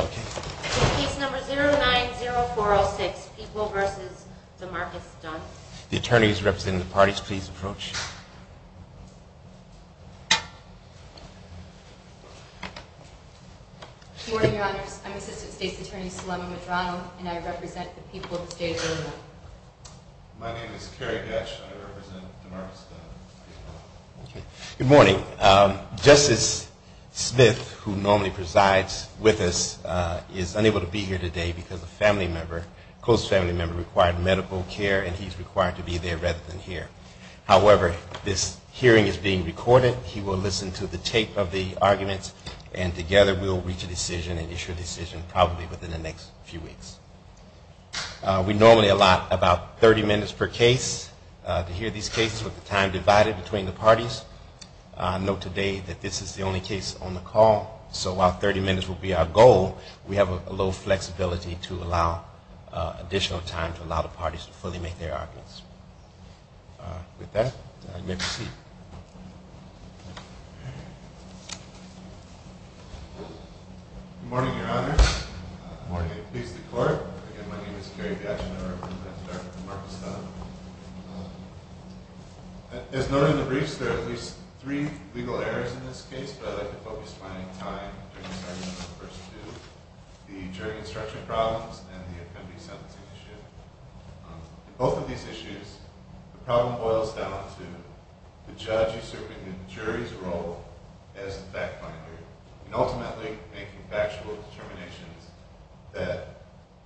Okay. Case number 090406, People v. DeMarcus Dunn. The attorneys representing the parties, please approach. Good morning, Your Honors. I'm Assistant State's Attorney Sulema Madrano, and I represent the people of the state of Illinois. My name is Kerry Getsch, I represent DeMarcus Dunn. Okay. Good morning. Justice Smith, who normally presides with us, is unable to be here today because a family member, close family member, required medical care, and he's required to be there rather than here. However, this hearing is being recorded. He will listen to the tape of the arguments, and together we'll reach a decision and issue a decision probably within the next few weeks. We normally allot about 30 minutes per case to hear these cases with the time divided between the parties. I note today that this is the only case on the call, so while 30 minutes will be our goal, we have a little flexibility to allow additional time to allow the parties to fully make their arguments. With that, you may proceed. Good morning, Your Honors. Good morning. Pleased to court. Again, my name is Kerry Getsch, and I represent DeMarcus Dunn. As noted in the briefs, there are at least three legal errors in this case, but I'd like to focus my time during this argument on the first two, the jury instruction problems and the appendix sentencing issue. In both of these issues, the problem boils down to the judge usurping the jury's role as the fact finder and ultimately making factual determinations that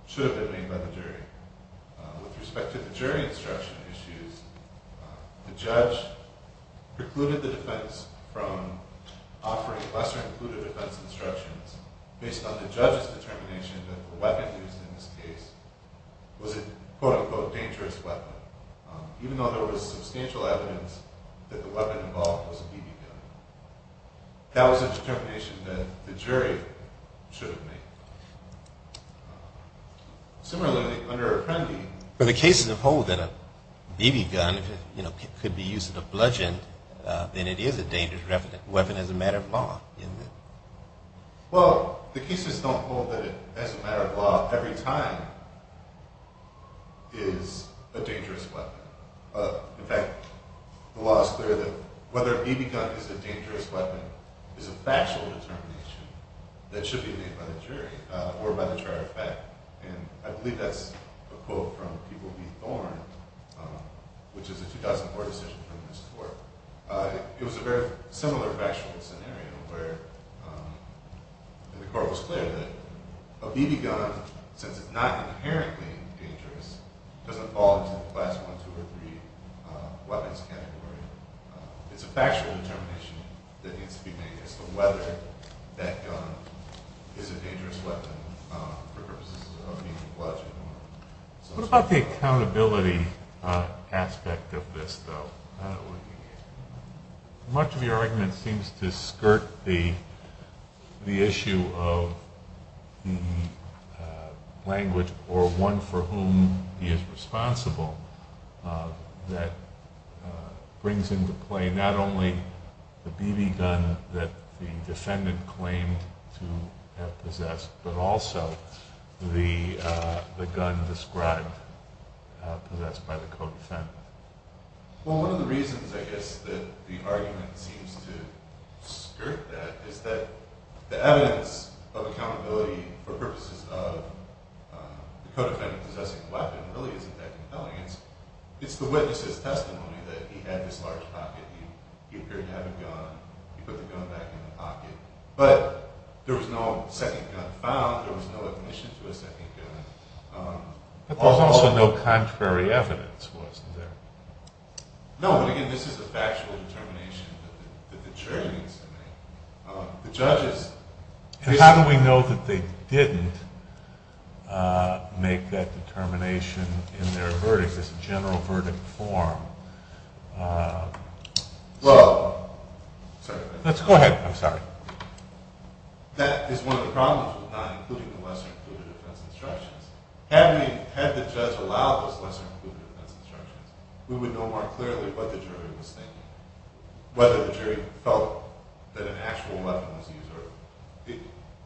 should have been made by the jury. With respect to the jury instruction issues, the judge precluded the defense from offering lesser-included defense instructions based on the judge's determination that the weapon used in this case was a quote-unquote dangerous weapon, even though there was substantial evidence that the weapon involved was a BB gun. That was a determination that the jury should have made. Similarly, under appendix… But the cases uphold that a BB gun, if it could be used in a bludgeon, then it is a dangerous weapon as a matter of law, isn't it? Well, the cases don't hold that it, as a matter of law, every time, is a dangerous weapon. In fact, the law is clear that whether a BB gun is a dangerous weapon is a factual determination that should be made by the jury or by the trial effect. And I believe that's a quote from People v. Thorne, which is a 2004 decision from this court. It was a very similar factual scenario where the court was clear that a BB gun, since it's not inherently dangerous, doesn't fall into the class 1, 2, or 3 weapons category. It's a factual determination that needs to be made as to whether that gun is a dangerous weapon for purposes of being in a bludgeon. What about the accountability aspect of this, though? Much of your argument seems to skirt the issue of the language, or one for whom he is responsible, that brings into play not only the BB gun that the defendant claimed to have possessed, but also the gun described as possessed by the co-defendant. Well, one of the reasons, I guess, that the argument seems to skirt that is that the evidence of accountability for purposes of the co-defendant possessing the weapon really isn't that compelling. It's the witness's testimony that he had this large pocket. He appeared to have a gun. He put the gun back in the pocket. But there was no second gun found. There was no admission to a second gun. But there was also no contrary evidence, was there? No, but again, this is a factual determination that the jury needs to make. The judges… And how do we know that they didn't make that determination in their verdict, this general verdict form? Let's go ahead. I'm sorry. That is one of the problems with not including the lesser-included defense instructions. Had the judge allowed those lesser-included defense instructions, we would know more clearly what the jury was thinking, whether the jury felt that an actual weapon was used.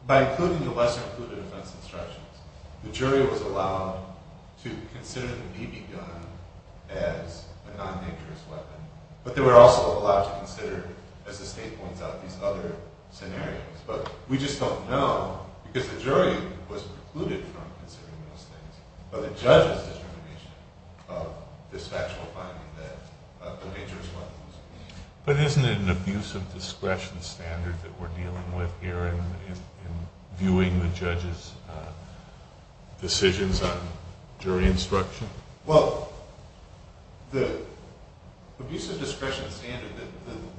By including the lesser-included defense instructions, the jury was allowed to consider the BB gun as a non-dangerous weapon, but they were also allowed to consider, as the state points out, these other scenarios. But we just don't know because the jury was precluded from considering those things by the judge's determination of this factual finding that a dangerous weapon was used. But isn't it an abuse of discretion standard that we're dealing with here in viewing the judge's decisions on jury instruction? Well, the abuse of discretion standard…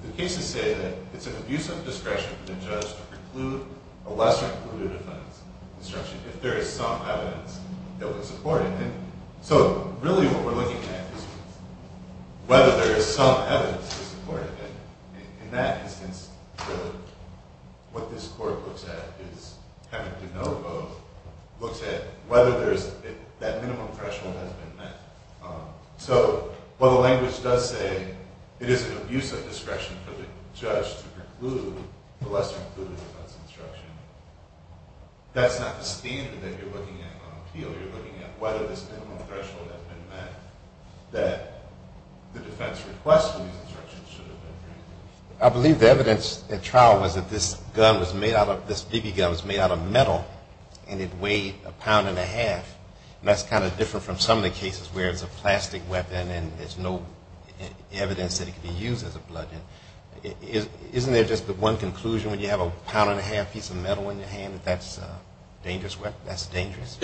The cases say that it's an abuse of discretion for the judge to preclude a lesser-included defense instruction if there is some evidence that would support it. So really what we're looking at is whether there is some evidence to support it. In that instance, what this court looks at is having DeNovo look at whether that minimum threshold has been met. So while the language does say it is an abuse of discretion for the judge to preclude a lesser-included defense instruction, that's not the standard that you're looking at on appeal. You're looking at whether this minimum threshold has been met, that the defense request for these instructions should have been granted. I believe the evidence at trial was that this gun was made out of – this BB gun was made out of metal and it weighed a pound and a half. And that's kind of different from some of the cases where it's a plastic weapon and there's no evidence that it could be used as a bludgeon. Isn't there just the one conclusion when you have a pound and a half piece of metal in your hand that that's a dangerous weapon? That's dangerous?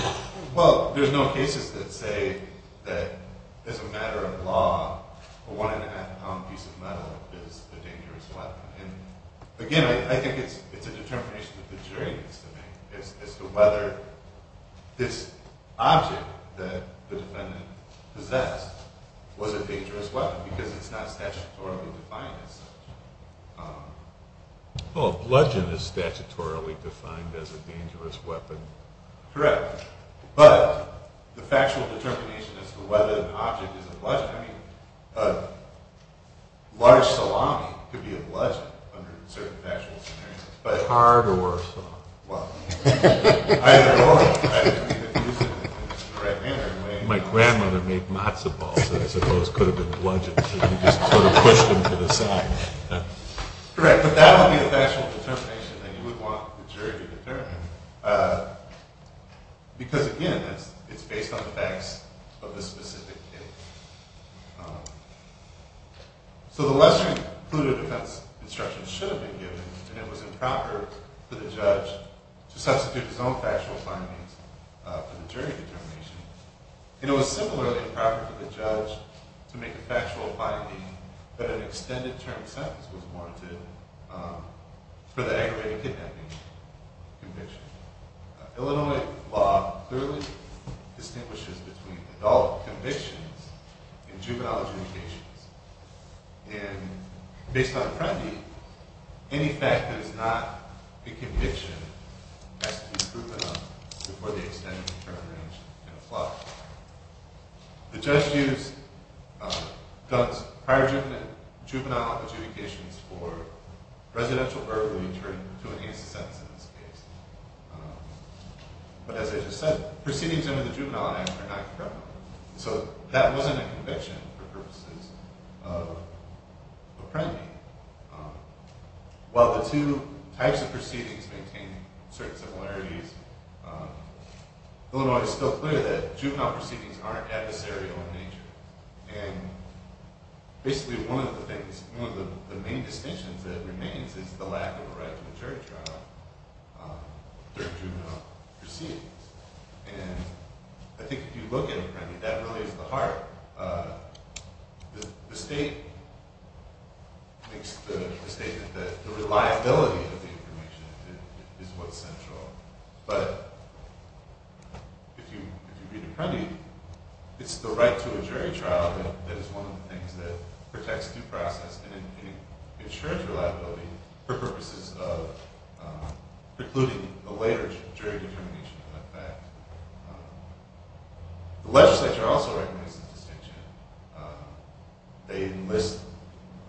Well, there's no cases that say that as a matter of law, a one and a half pound piece of metal is a dangerous weapon. And again, I think it's a determination that the jury needs to make as to whether this object that the defendant possessed was a dangerous weapon because it's not statutorily defined as such. Well, a bludgeon is statutorily defined as a dangerous weapon. Correct. But the factual determination as to whether an object is a bludgeon – I mean, a large salami could be a bludgeon under certain factual scenarios. A card or a salami. Well, either or. I didn't mean to confuse it in the right manner. My grandmother made matzo balls that I suppose could have been bludgeons and you just sort of pushed them to the side. Correct. But that would be a factual determination that you would want the jury to determine because, again, it's based on the facts of the specific case. So the Western Pluto defense instruction should have been given and it was improper for the judge to substitute his own factual findings for the jury determination. And it was similarly improper for the judge to make a factual finding that an extended term sentence was warranted for the aggravated kidnapping conviction. Illinois law clearly distinguishes between adult convictions and juvenile adjudications. And based on Apprendi, any fact that is not a conviction has to be proven up before the extended term range can apply. The judge used prior juvenile adjudications for residential burglary to enhance the sentence in this case. But as I just said, proceedings under the Juvenile Act are not correct. So that wasn't a conviction for purposes of Apprendi. While the two types of proceedings maintain certain similarities, Illinois is still clear that juvenile proceedings aren't adversarial in nature. And basically one of the main distinctions that remains is the lack of a right to a jury trial during juvenile proceedings. And I think if you look at Apprendi, that really is the heart. The state makes the statement that the reliability of the information is what's central. But if you read Apprendi, it's the right to a jury trial that is one of the things that protects due process and ensures reliability for purposes of precluding the later jury determination of the fact. The legislature also recognizes this distinction. They enlist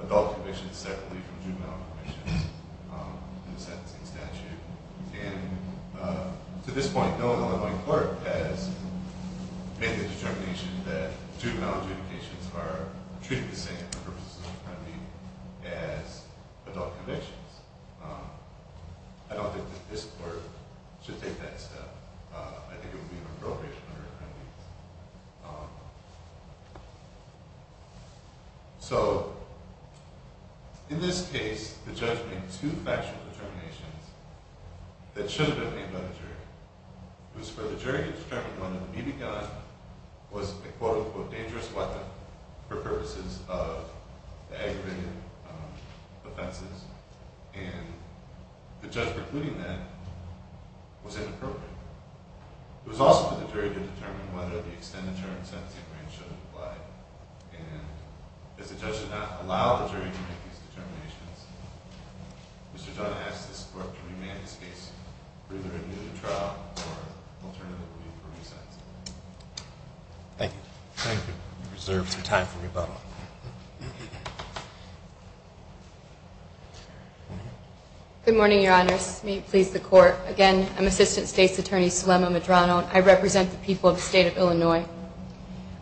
adult convictions separately from juvenile convictions in the sentencing statute. And to this point, no Illinois court has made the determination that juvenile adjudications are treated the same for purposes of Apprendi as adult convictions. I don't think that this court should take that step. I think it would be inappropriate under Apprendi. So in this case, the judge made two factual determinations that shouldn't have been made by the jury. It was for the jury to determine whether the BB gun was a quote unquote dangerous weapon for purposes of aggravated offenses. And the judge precluding that was inappropriate. It was also for the jury to determine whether the extended term sentencing range should be applied. And as the judge did not allow the jury to make these determinations, Mr. John asked this court to remand this case further into the trial or alternatively for re-sentencing. Thank you. Thank you. We reserve some time for rebuttal. May it please the Court. Again, I'm Assistant State's Attorney Salema Medrano. I represent the people of the state of Illinois.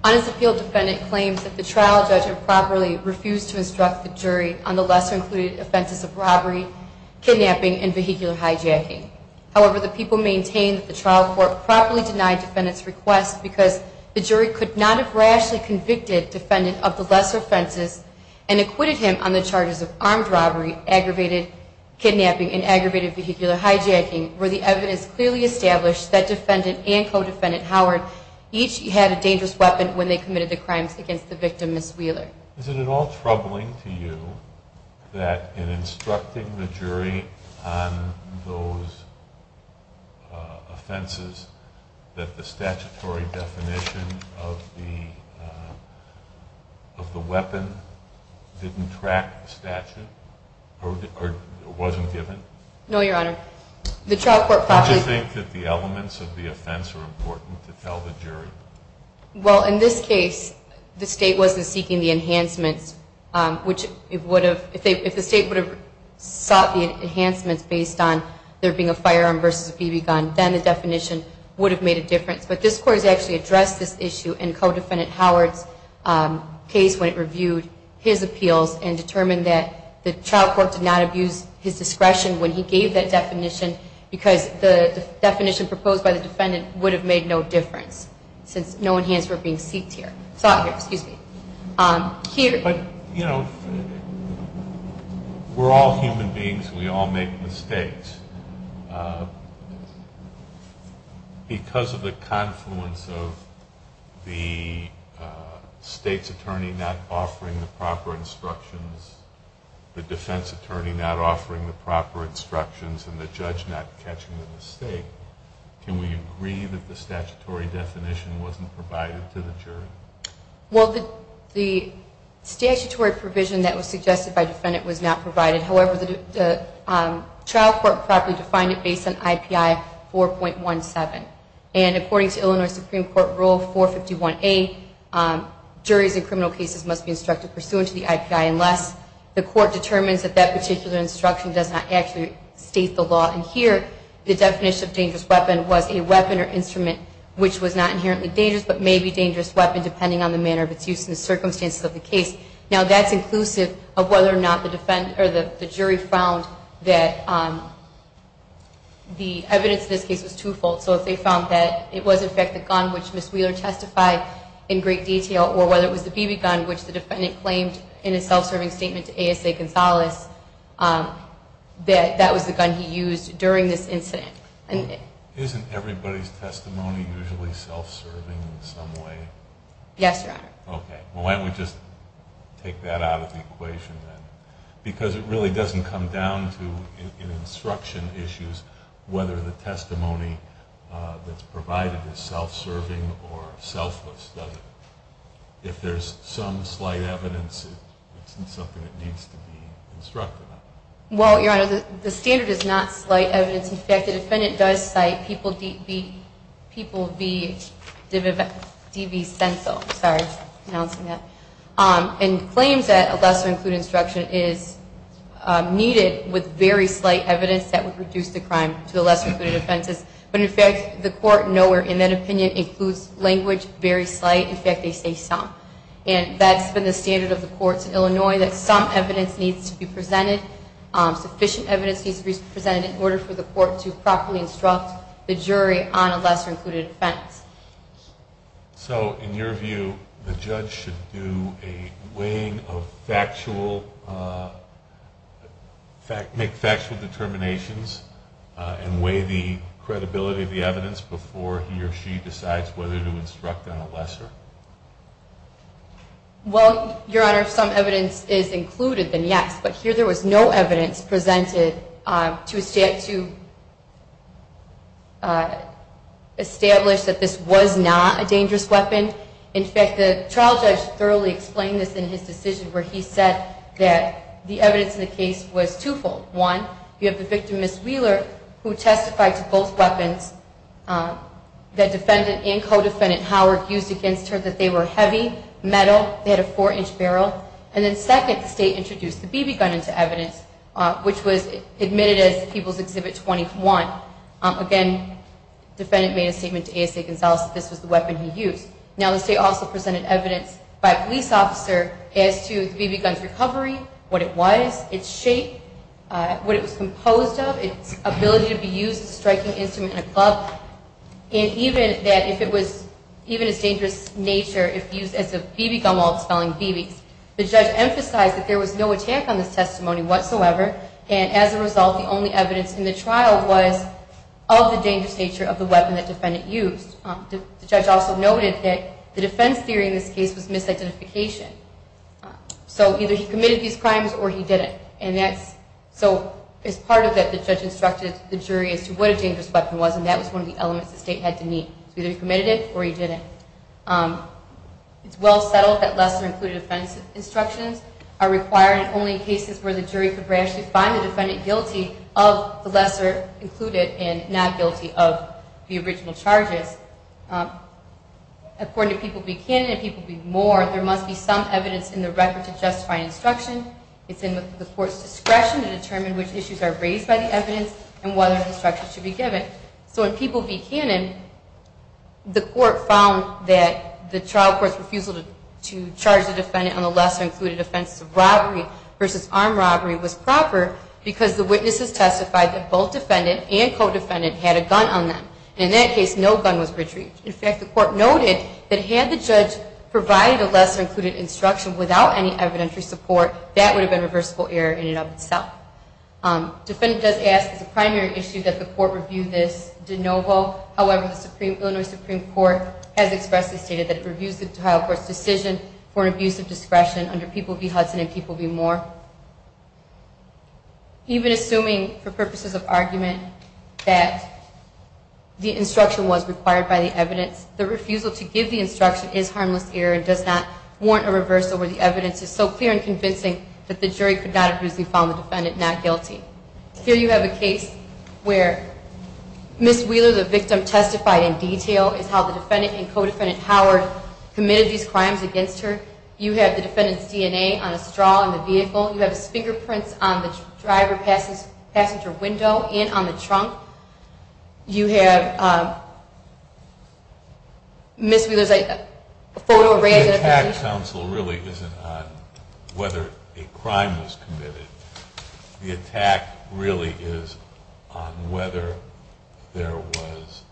On his appeal, defendant claims that the trial judge improperly refused to instruct the jury on the lesser included offenses of robbery, kidnapping, and vehicular hijacking. However, the people maintain that the trial court properly denied defendant's request because the jury could not have rashly convicted defendant of the lesser offenses and acquitted him on the charges of armed robbery, aggravated kidnapping, and aggravated vehicular hijacking, where the evidence clearly established that defendant and co-defendant Howard each had a dangerous weapon when they committed the crimes against the victim, Ms. Wheeler. Is it at all troubling to you that in instructing the jury on those offenses that the statutory definition of the weapon didn't track the statute or wasn't given? No, Your Honor. The trial court properly... Don't you think that the elements of the offense are important to tell the jury? Well, in this case, the state wasn't seeking the enhancements, which it would have... If the state would have sought the enhancements based on there being a firearm versus a BB gun, then the definition would have made a difference. But this court has actually addressed this issue in co-defendant Howard's case when it reviewed his appeals and determined that the trial court did not abuse his discretion when he gave that definition because the definition proposed by the defendant would have made no difference since no enhancements were being sought here. But, you know, we're all human beings and we all make mistakes. Because of the confluence of the state's attorney not offering the proper instructions, the defense attorney not offering the proper instructions, and the judge not catching the mistake, can we agree that the statutory definition wasn't provided to the jury? Well, the statutory provision that was suggested by the defendant was not provided. However, the trial court properly defined it based on IPI 4.17. And according to Illinois Supreme Court Rule 451A, juries in criminal cases must be instructed pursuant to the IPI unless the court determines that that particular instruction does not actually state the law. And here, the definition of dangerous weapon was a weapon or instrument which was not inherently dangerous but may be a dangerous weapon depending on the manner of its use and the circumstances of the case. Now, that's inclusive of whether or not the jury found that the evidence in this case was twofold. So if they found that it was in fact the gun which Ms. Wheeler testified in great detail or whether it was the BB gun which the defendant claimed in his self-serving statement to ASA Gonzalez that that was the gun he used during this incident. Isn't everybody's testimony usually self-serving in some way? Yes, Your Honor. Okay. Well, why don't we just take that out of the equation then? Because it really doesn't come down to, in instruction issues, whether the testimony that's provided is self-serving or selfless, does it? If there's some slight evidence, it's something that needs to be instructed on. Well, Your Honor, the standard is not slight evidence. In fact, the defendant does cite People v. Divisento. Sorry for announcing that. And claims that a lesser-included instruction is needed with very slight evidence that would reduce the crime to the lesser-included offenses. But in fact, the court nowhere in that opinion includes language very slight. In fact, they say some. And that's been the standard of the courts in Illinois, that some evidence needs to be presented, sufficient evidence needs to be presented in order for the court to properly instruct the jury on a lesser-included offense. So, in your view, the judge should do a weighing of factual, make factual determinations and weigh the credibility of the evidence before he or she decides whether to instruct on a lesser? Well, Your Honor, if some evidence is included, then yes. But here there was no evidence presented to establish that this was not a dangerous weapon. In fact, the trial judge thoroughly explained this in his decision where he said that the evidence in the case was twofold. One, you have the victim, Ms. Wheeler, who testified to both weapons that defendant and co-defendant Howard used against her, that they were heavy, metal, they had a four-inch barrel. And then second, the State introduced the BB gun into evidence, which was admitted as People's Exhibit 21. Again, defendant made a statement to ASA Gonzalez that this was the weapon he used. Now, the State also presented evidence by a police officer as to the BB gun's recovery, what it was, its shape, what it was composed of, its ability to be used as a striking instrument in a club, and even that if it was, even its dangerous nature, if used as a BB gun while it's spelling BBs. The judge emphasized that there was no attack on this testimony whatsoever, and as a result the only evidence in the trial was of the dangerous nature of the weapon that defendant used. The judge also noted that the defense theory in this case was misidentification. So either he committed these crimes or he didn't. And that's, so as part of that, the judge instructed the jury as to what a dangerous weapon was, and that was one of the elements the State had to meet. So either he committed it or he didn't. It's well settled that lesser-included offense instructions are required only in cases where the jury could actually find the defendant guilty of the lesser-included and not guilty of the original charges. According to People v. Cannon and People v. Moore, there must be some evidence in the record to justify instruction. It's in the court's discretion to determine which issues are raised by the evidence and whether instruction should be given. So in People v. Cannon, the court found that the trial court's refusal to charge the defendant on the lesser-included offenses of robbery versus armed robbery was proper because the witnesses testified that both defendant and co-defendant had a gun on them. In that case, no gun was retrieved. In fact, the court noted that had the judge provided a lesser-included instruction without any evidentiary support, that would have been a reversible error in and of itself. Defendant does ask as a primary issue that the court review this de novo. However, the Illinois Supreme Court has expressly stated that it reviews the trial court's decision for an abuse of discretion under People v. Hudson and People v. Moore. Even assuming for purposes of argument that the instruction was required by the evidence, the refusal to give the instruction is harmless error and does not warrant a reversal where the evidence is so clear and convincing that the jury could not have easily found the defendant not guilty. Here you have a case where Ms. Wheeler, the victim, testified in detail as how the defendant and co-defendant Howard committed these crimes against her. You have the defendant's DNA on a straw in the vehicle. You have fingerprints on the driver passenger window and on the trunk. You have Ms. Wheeler's photo array. The attack, counsel, really isn't on whether a crime was committed. The attack really is on whether there was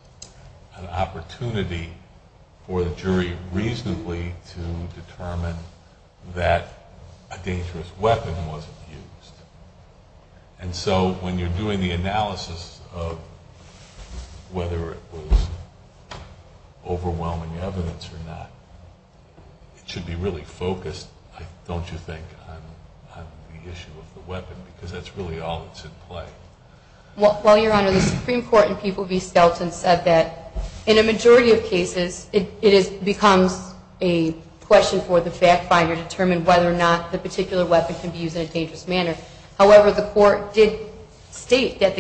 an opportunity for the jury reasonably to determine that a dangerous weapon was used. And so when you're doing the analysis of whether it was overwhelming evidence or not, it should be really focused, don't you think, on the issue of the weapon because that's really all that's at play. Well, Your Honor, the Supreme Court in People v. Skelton said that in a majority of cases, it becomes a question for the fact finder to determine whether or not the particular weapon can be used in a dangerous manner. However, the court did state that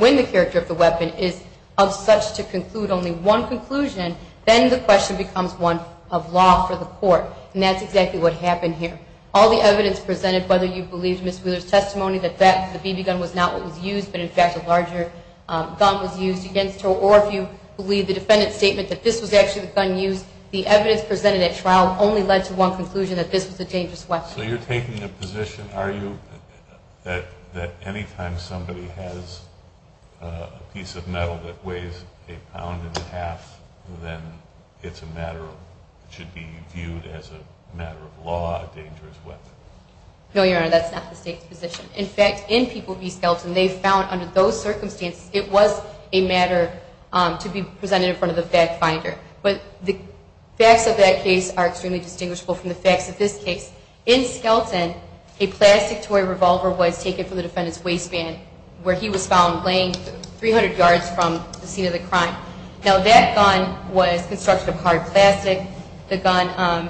when the character of the weapon is of such to conclude only one conclusion, then the question becomes one of law for the court, and that's exactly what happened here. All the evidence presented, whether you believe Ms. Wheeler's testimony that the BB gun was not what was used but, in fact, a larger gun was used against her, or if you believe the defendant's statement that this was actually the gun used, the evidence presented at trial only led to one conclusion, that this was a dangerous weapon. So you're taking the position, are you, that any time somebody has a piece of metal that weighs a pound and a half, then it's a matter of, it should be viewed as a matter of law, a dangerous weapon. No, Your Honor, that's not the State's position. In fact, in People v. Skelton, they found under those circumstances, it was a matter to be presented in front of the fact finder. But the facts of that case are extremely distinguishable from the facts of this case. In Skelton, a plastic toy revolver was taken from the defendant's waistband, where he was found laying 300 yards from the scene of the crime. Now, that gun was constructed of hard plastic. The gun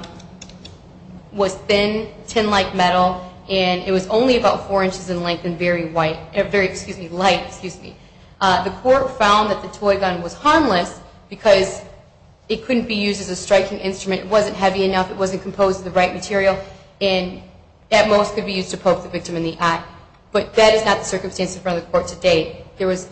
was thin, tin-like metal, and it was only about 4 inches in length and very light. The court found that the toy gun was harmless, because it couldn't be used as a striking instrument, it wasn't heavy enough, it wasn't composed of the right material, and at most could be used to poke the victim in the eye. But that is not the circumstance in front of the court to date. The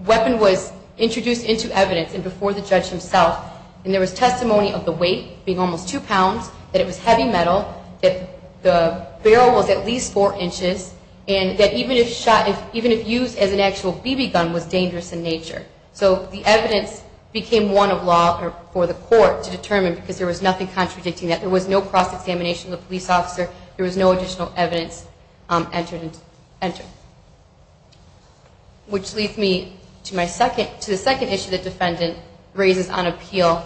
weapon was introduced into evidence and before the judge himself, and there was testimony of the weight being almost 2 pounds, that it was heavy metal, that the barrel was at least 4 inches, and that even if used as an actual BB gun was dangerous in nature. So the evidence became one of law for the court to determine, because there was nothing contradicting that. There was no cross-examination of the police officer. There was no additional evidence entered. Which leads me to the second issue the defendant raises on appeal,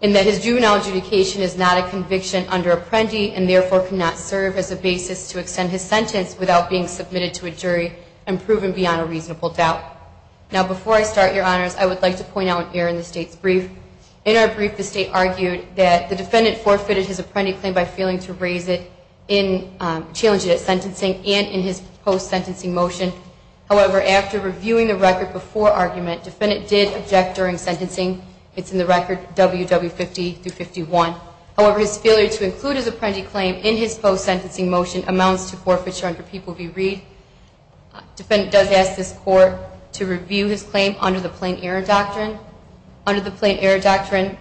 in that his juvenile adjudication is not a conviction under Apprendi, and therefore cannot serve as a basis to extend his sentence without being submitted to a jury and proven beyond a reasonable doubt. Now, before I start, your honors, I would like to point out an error in the state's brief. In our brief, the state argued that the defendant forfeited his Apprendi claim by failing to challenge it at sentencing and in his post-sentencing motion. However, after reviewing the record before argument, the defendant did object during sentencing. It's in the record WW50-51. However, his failure to include his Apprendi claim in his post-sentencing motion amounts to forfeiture under P. B. Reid. The defendant does ask this court to review his claim under the plain error doctrine. Under the plain error doctrine,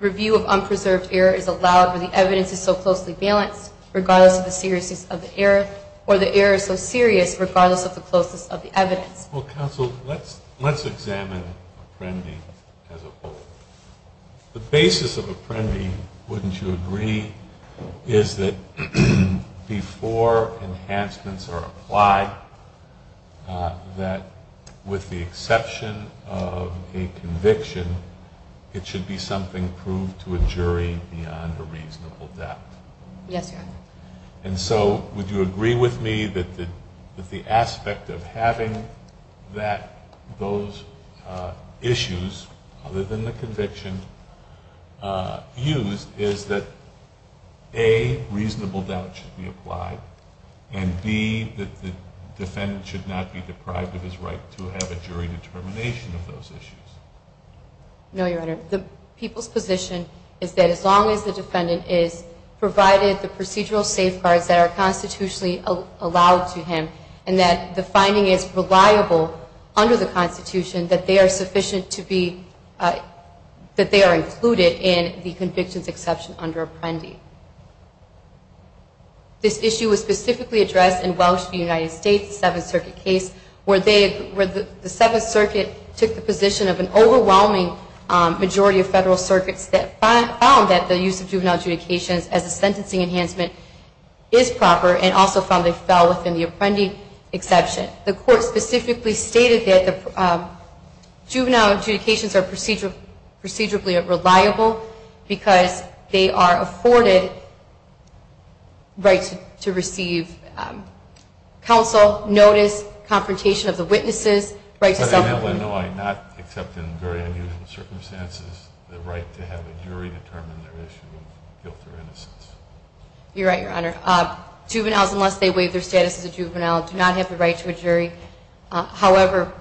review of unpreserved error is allowed when the evidence is so closely balanced, regardless of the seriousness of the error, or the error is so serious, regardless of the closeness of the evidence. Well, counsel, let's examine Apprendi as a whole. The basis of Apprendi, wouldn't you agree, is that before enhancements are applied, that with the exception of a conviction, it should be something proved to a jury beyond a reasonable doubt. Yes, your honor. And so, would you agree with me that the aspect of having those issues, other than the conviction, used is that A, reasonable doubt should be applied, and B, that the defendant should not be deprived of his right to have a jury determination of those issues. No, your honor. The people's position is that as long as the defendant is provided the procedural safeguards that are constitutionally allowed to him, and that the finding is reliable under the Constitution, that they are sufficient to be, that they are included in the convictions exception under Apprendi. This issue was specifically addressed in Welsh v. United States, the Seventh Circuit case, where the Seventh Circuit took the position of an overwhelming majority of federal circuits that found that the use of juvenile adjudications as a sentencing enhancement is proper, and also found they fell within the Apprendi exception. The court specifically stated that juvenile adjudications are procedurally reliable because they are afforded rights to receive counsel, notice, confrontation of the witnesses, right to self- But I know I'm not, except in very unusual circumstances, the right to have a jury determine their issue of guilt or innocence. You're right, your honor. Juveniles, unless they waive their status as a juvenile, do not have the right to a jury. However,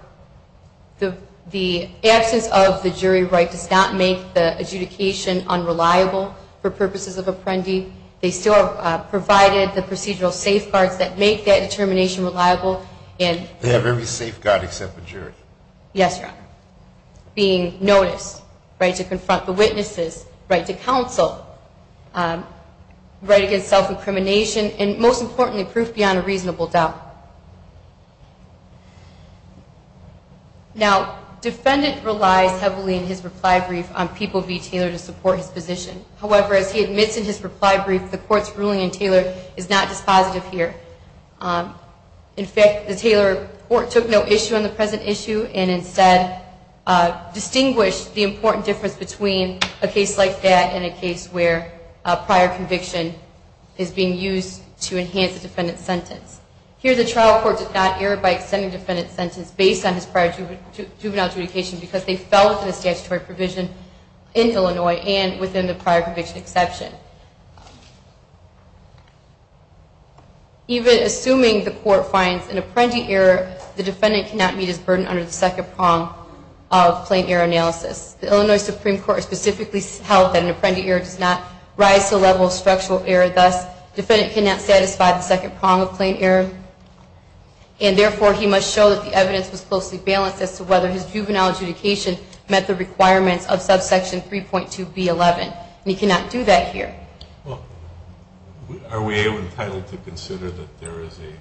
the absence of the jury right does not make the adjudication unreliable for purposes of Apprendi. They still are provided the procedural safeguards that make that determination reliable. They have every safeguard except the jury. Yes, your honor. Being noticed, right to confront the witnesses, right to counsel, right against self-incrimination, and most importantly, proof beyond a reasonable doubt. Now, defendant relies heavily in his reply brief on people v. Taylor to support his position. However, as he admits in his reply brief, the court's ruling in Taylor is not dispositive here. In fact, the Taylor court took no issue on the present issue and instead distinguished the important difference between a case like that and a case where prior conviction is being used to enhance the defendant's sentence. Here, the trial court did not err by extending the defendant's sentence based on his prior juvenile adjudication because they fell within the statutory provision in Illinois and within the prior conviction exception. Even assuming the court finds an Apprendi error, the defendant cannot meet his burden under the second prong of plain error analysis. The Illinois Supreme Court specifically held that an Apprendi error does not rise to the level of structural error. Thus, the defendant cannot satisfy the second prong of plain error. And therefore, he must show that the evidence was closely balanced as to whether his juvenile adjudication met the requirements of subsection 3.2B11. And he cannot do that here. Well, are we entitled to consider that there is a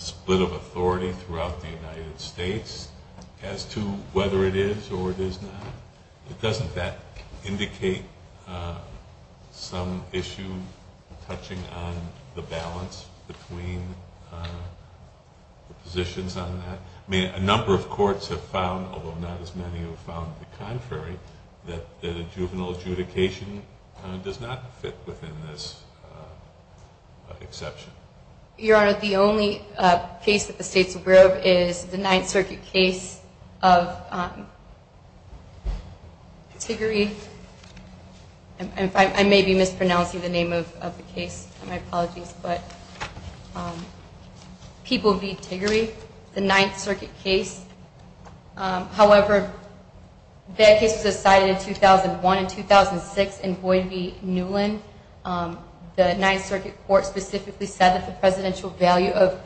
split of authority throughout the United States as to whether it is or it is not? Doesn't that indicate some issue touching on the balance between the positions on that? I mean, a number of courts have found, although not as many have found the contrary, that a juvenile adjudication does not fit within this exception. Your Honor, the only case that the States were aware of is the Ninth Circuit case of Tiggery. I may be mispronouncing the name of the case. My apologies. But People v. Tiggery, the Ninth Circuit case. However, that case was decided in 2001 and 2006 in Boyd v. Newland. The Ninth Circuit Court specifically said that the presidential value of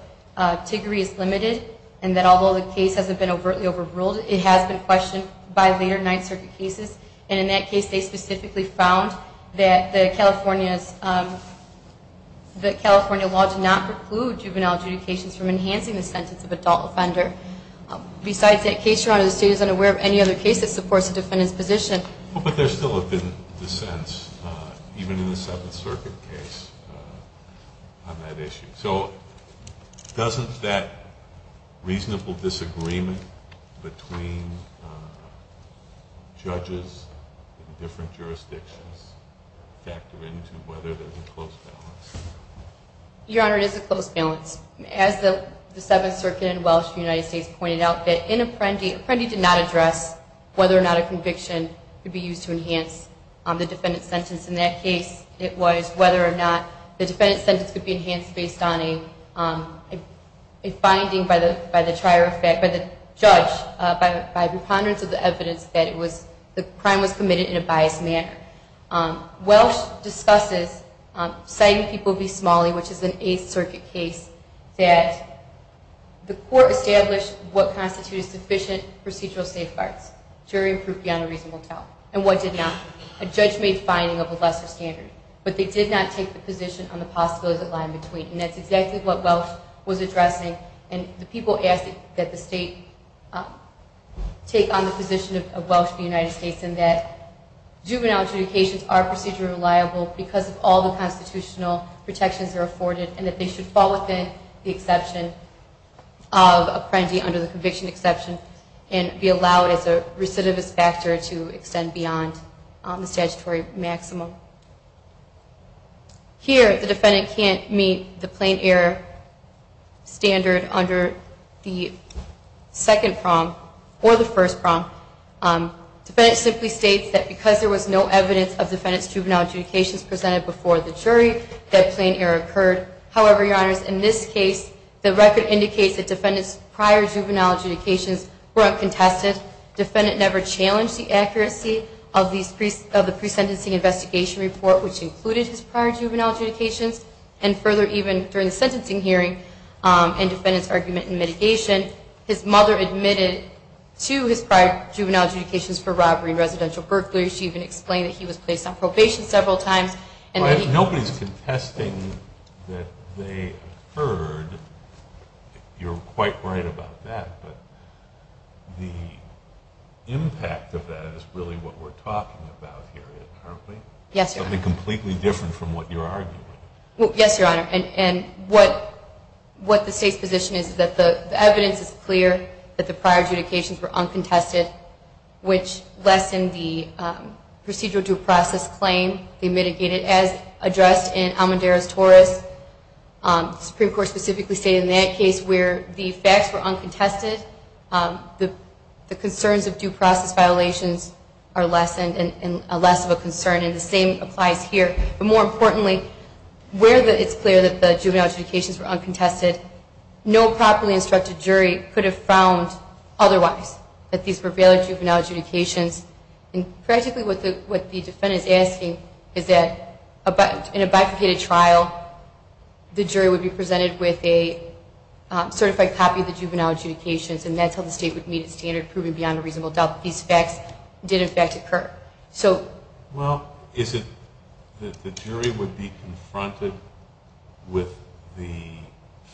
Tiggery is limited and that although the case hasn't been overtly overruled, it has been questioned by later Ninth Circuit cases. And in that case, they specifically found that the California law did not preclude juvenile adjudications from enhancing the sentence of adult offender. Besides that case, Your Honor, the State is unaware of any other case that supports the defendant's position. But there still have been dissents, even in the Seventh Circuit case, on that issue. So doesn't that reasonable disagreement between judges in different jurisdictions factor into whether there's a close balance? Your Honor, it is a close balance. As the Seventh Circuit in Welsh, United States, pointed out, that Apprendi did not address whether or not a conviction could be used to enhance the defendant's sentence. In that case, it was whether or not the defendant's sentence could be enhanced based on a finding by the judge by preponderance of the evidence that the crime was committed in a biased manner. Welsh discusses, citing People v. Smalley, which is an Eighth Circuit case, that the court established what constitutes sufficient procedural safeguards, jury and proof beyond a reasonable doubt. And what did not? A judge-made finding of a lesser standard. But they did not take the position on the possibilities that lie in between. And that's exactly what Welsh was addressing. And the people asked that the State take on the position of Welsh v. United States in that juvenile adjudications are procedurally reliable because of all the constitutional protections that are afforded and that they should fall within the exception of Apprendi under the conviction exception and be allowed as a recidivist factor to extend beyond the statutory maximum. Here, the defendant can't meet the plain error standard under the second prong or the first prong. Defendant simply states that because there was no evidence of defendant's juvenile adjudications presented before the jury, that plain error occurred. However, Your Honors, in this case, the record indicates that defendant's prior juvenile adjudications were uncontested. Defendant never challenged the accuracy of the pre-sentencing investigation report, which included his prior juvenile adjudications. And further, even during the sentencing hearing and defendant's argument in mitigation, his mother admitted to his prior juvenile adjudications for robbery and residential burglary. She even explained that he was placed on probation several times. Nobody's contesting that they heard. You're quite right about that. But the impact of that is really what we're talking about here, apparently. Yes, Your Honor. Yes, Your Honor. And what the State's position is is that the evidence is clear that the prior adjudications were uncontested, which lessened the procedural due process claim. They mitigated it, as addressed in Almodera's Taurus. The Supreme Court specifically stated in that case where the facts were uncontested, the concerns of due process violations are lessened and less of a concern. And the same applies here. But more importantly, where it's clear that the juvenile adjudications were uncontested, no properly instructed jury could have found otherwise that these were valid juvenile adjudications. And practically what the defendant is asking is that in a bifurcated trial, the jury would be presented with a certified copy of the juvenile adjudications, and that's how the State would meet its standard of proving beyond a reasonable doubt that these facts did, in fact, occur. Well, is it that the jury would be confronted with the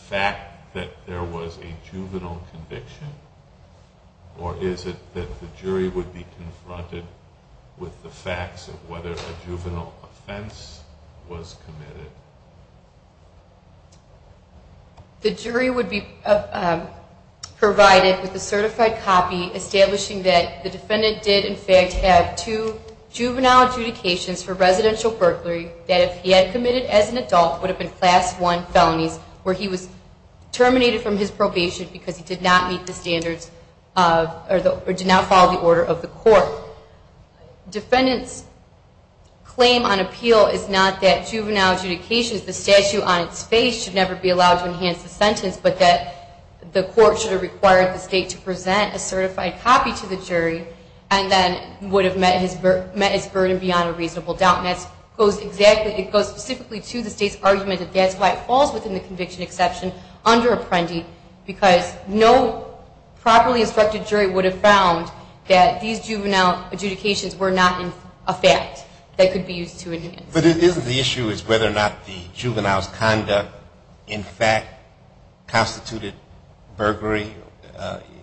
fact that there was a juvenile conviction, or is it that the jury would be confronted with the facts of whether a juvenile offense was committed? The jury would be provided with a certified copy, establishing that the defendant did, in fact, have two juvenile adjudications for residential burglary, that if he had committed as an adult, would have been Class I felonies, where he was terminated from his probation because he did not meet the standards, or did not follow the order of the court. Defendant's claim on appeal is not that juvenile adjudications, the statute on its face, should never be allowed to enhance the sentence, but that the court should have required the State to present a certified copy to the jury, and then would have met its burden beyond a reasonable doubt. And that goes exactly, it goes specifically to the State's argument that that's why it falls within the conviction exception under Apprendi, because no properly instructed jury would have found that these juvenile adjudications were not a fact that could be used to enhance. But isn't the issue is whether or not the juvenile's conduct, in fact, constituted burglary,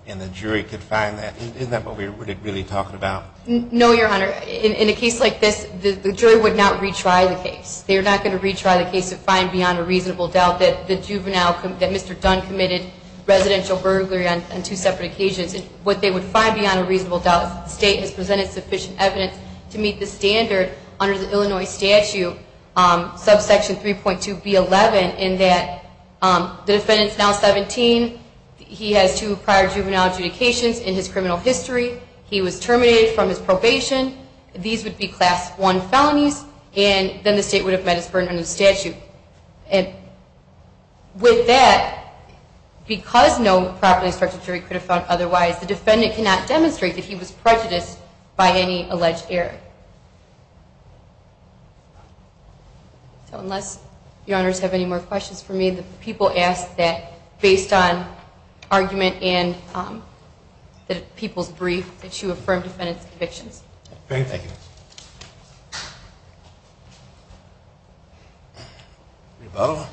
and the jury could find that? Isn't that what we're really talking about? No, Your Honor. In a case like this, the jury would not retry the case. They are not going to retry the case to find beyond a reasonable doubt that the juvenile, that Mr. Dunn committed residential burglary on two separate occasions. What they would find beyond a reasonable doubt is that the State has presented sufficient evidence to meet the standard under the Illinois statute, subsection 3.2B11, in that the defendant is now 17. He has two prior juvenile adjudications in his criminal history. He was terminated from his probation. These would be Class I felonies, and then the State would have met its burden under the statute. And with that, because no properly instructed jury could have found otherwise, the defendant cannot demonstrate that he was prejudiced by any alleged error. So unless Your Honors have any more questions for me, the people asked that based on argument and the people's brief, that you affirm the defendant's convictions. Thank you. Rebuttal.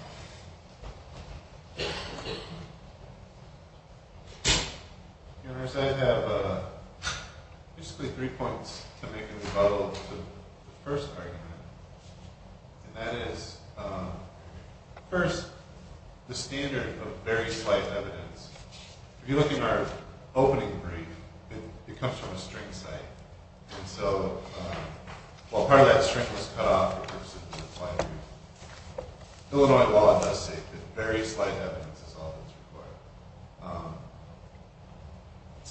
Your Honors, I have basically three points to make a rebuttal to the first argument, and that is, first, the standard of very slight evidence. If you look in our opening brief, it comes from a string site. And so while part of that string was cut off, Illinois law does say that very slight evidence is all that's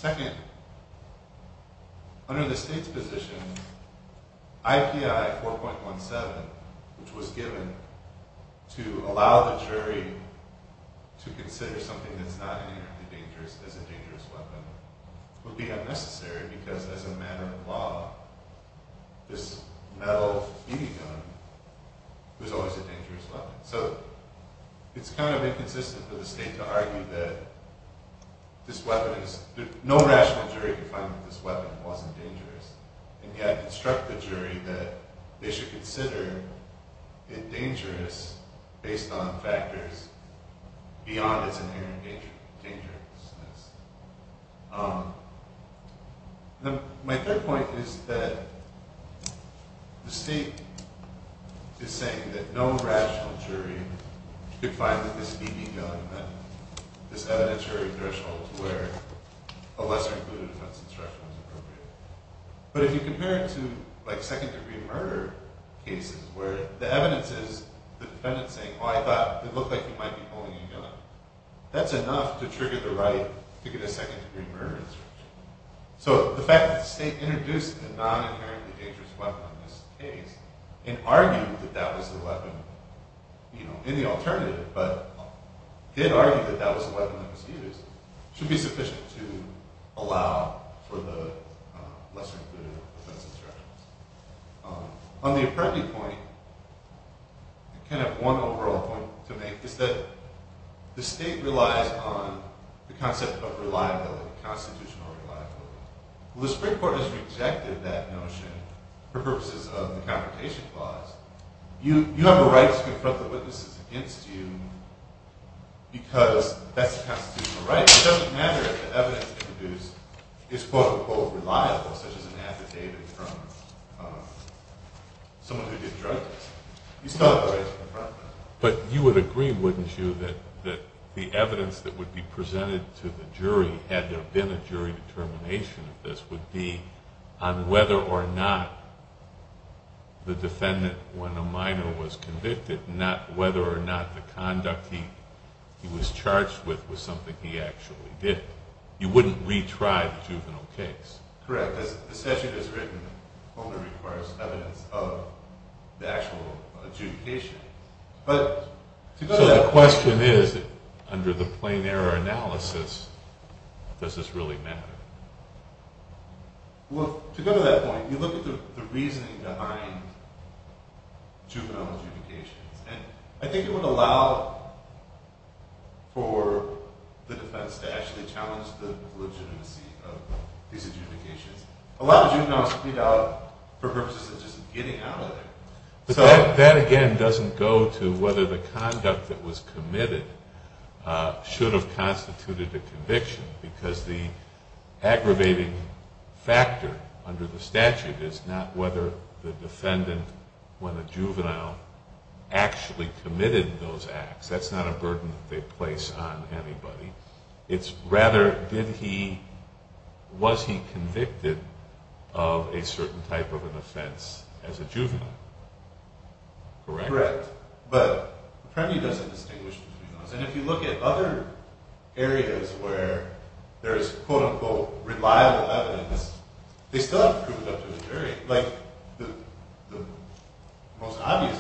required. Second, under the State's position, IPI 4.17, which was given to allow the jury to consider something that's not inherently dangerous as a dangerous weapon, would be unnecessary, because as a matter of law, this metal BB gun was always a dangerous weapon. So it's kind of inconsistent for the State to argue that this weapon is – no rational jury could find that this weapon wasn't dangerous, and yet instruct the jury that they should consider it dangerous based on factors beyond its inherent dangerousness. My third point is that the State is saying that no rational jury could find that this BB gun met this evidentiary threshold to where a lesser-included defense instruction was appropriate. But if you compare it to, like, second-degree murder cases, where the evidence is the defendant saying, oh, I thought it looked like he might be holding a gun, that's enough to trigger the right to get a second-degree murder instruction. So the fact that the State introduced a non-inherently dangerous weapon in this case and argued that that was the weapon, you know, in the alternative, but did argue that that was the weapon that was used, should be sufficient to allow for the lesser-included defense instructions. On the appending point, kind of one overall point to make is that the State relies on the concept of reliability, constitutional reliability. Well, the Supreme Court has rejected that notion for purposes of the Confrontation Clause. You have a right to confront the witnesses against you because that's a constitutional right. It doesn't matter if the evidence introduced is quote-unquote reliable, such as an affidavit from someone who did drugs. You still have a right to confront them. But you would agree, wouldn't you, that the evidence that would be presented to the jury, had there been a jury determination of this, would be on whether or not the defendant, when a minor was convicted, whether or not the conduct he was charged with was something he actually did. You wouldn't retry the juvenile case. Correct, because the statute as written only requires evidence of the actual adjudication. So the question is, under the plain error analysis, does this really matter? Well, to go to that point, you look at the reasoning behind juvenile adjudications, and I think it would allow for the defense to actually challenge the legitimacy of these adjudications. A lot of juveniles plead out for purposes of just getting out of there. But that again doesn't go to whether the conduct that was committed should have constituted a conviction, because the aggravating factor under the statute is not whether the defendant, when a juvenile, actually committed those acts. That's not a burden that they place on anybody. It's rather, was he convicted of a certain type of an offense as a juvenile? Correct? Correct, but the premium doesn't distinguish between those. And if you look at other areas where there is quote-unquote reliable evidence, they still have to prove it up to a jury. Like the most obvious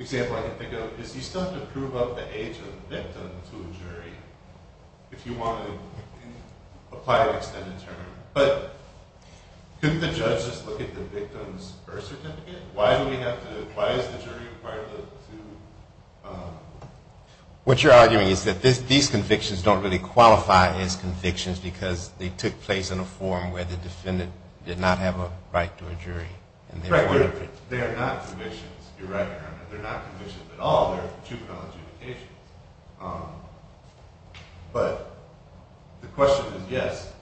example I can think of is you still have to prove up the age of the victim to a jury if you want to apply an extended term. But couldn't the judge just look at the victim's birth certificate? Why is the jury required to? What you're arguing is that these convictions don't really qualify as convictions because they took place in a forum where the defendant did not have a right to a jury. Correct, they are not convictions. You're right, Aaron. They're not convictions at all. They're juvenile adjudications. But the question is yes.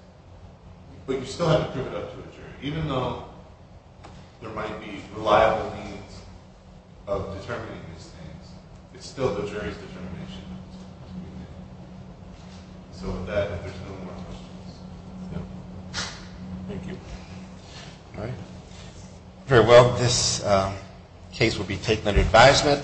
But you still have to prove it up to a jury. Even though there might be reliable means of determining these things, it's still the jury's determination. So with that, if there's no more questions. Thank you. All right. Very well, this case will be taken under advisement.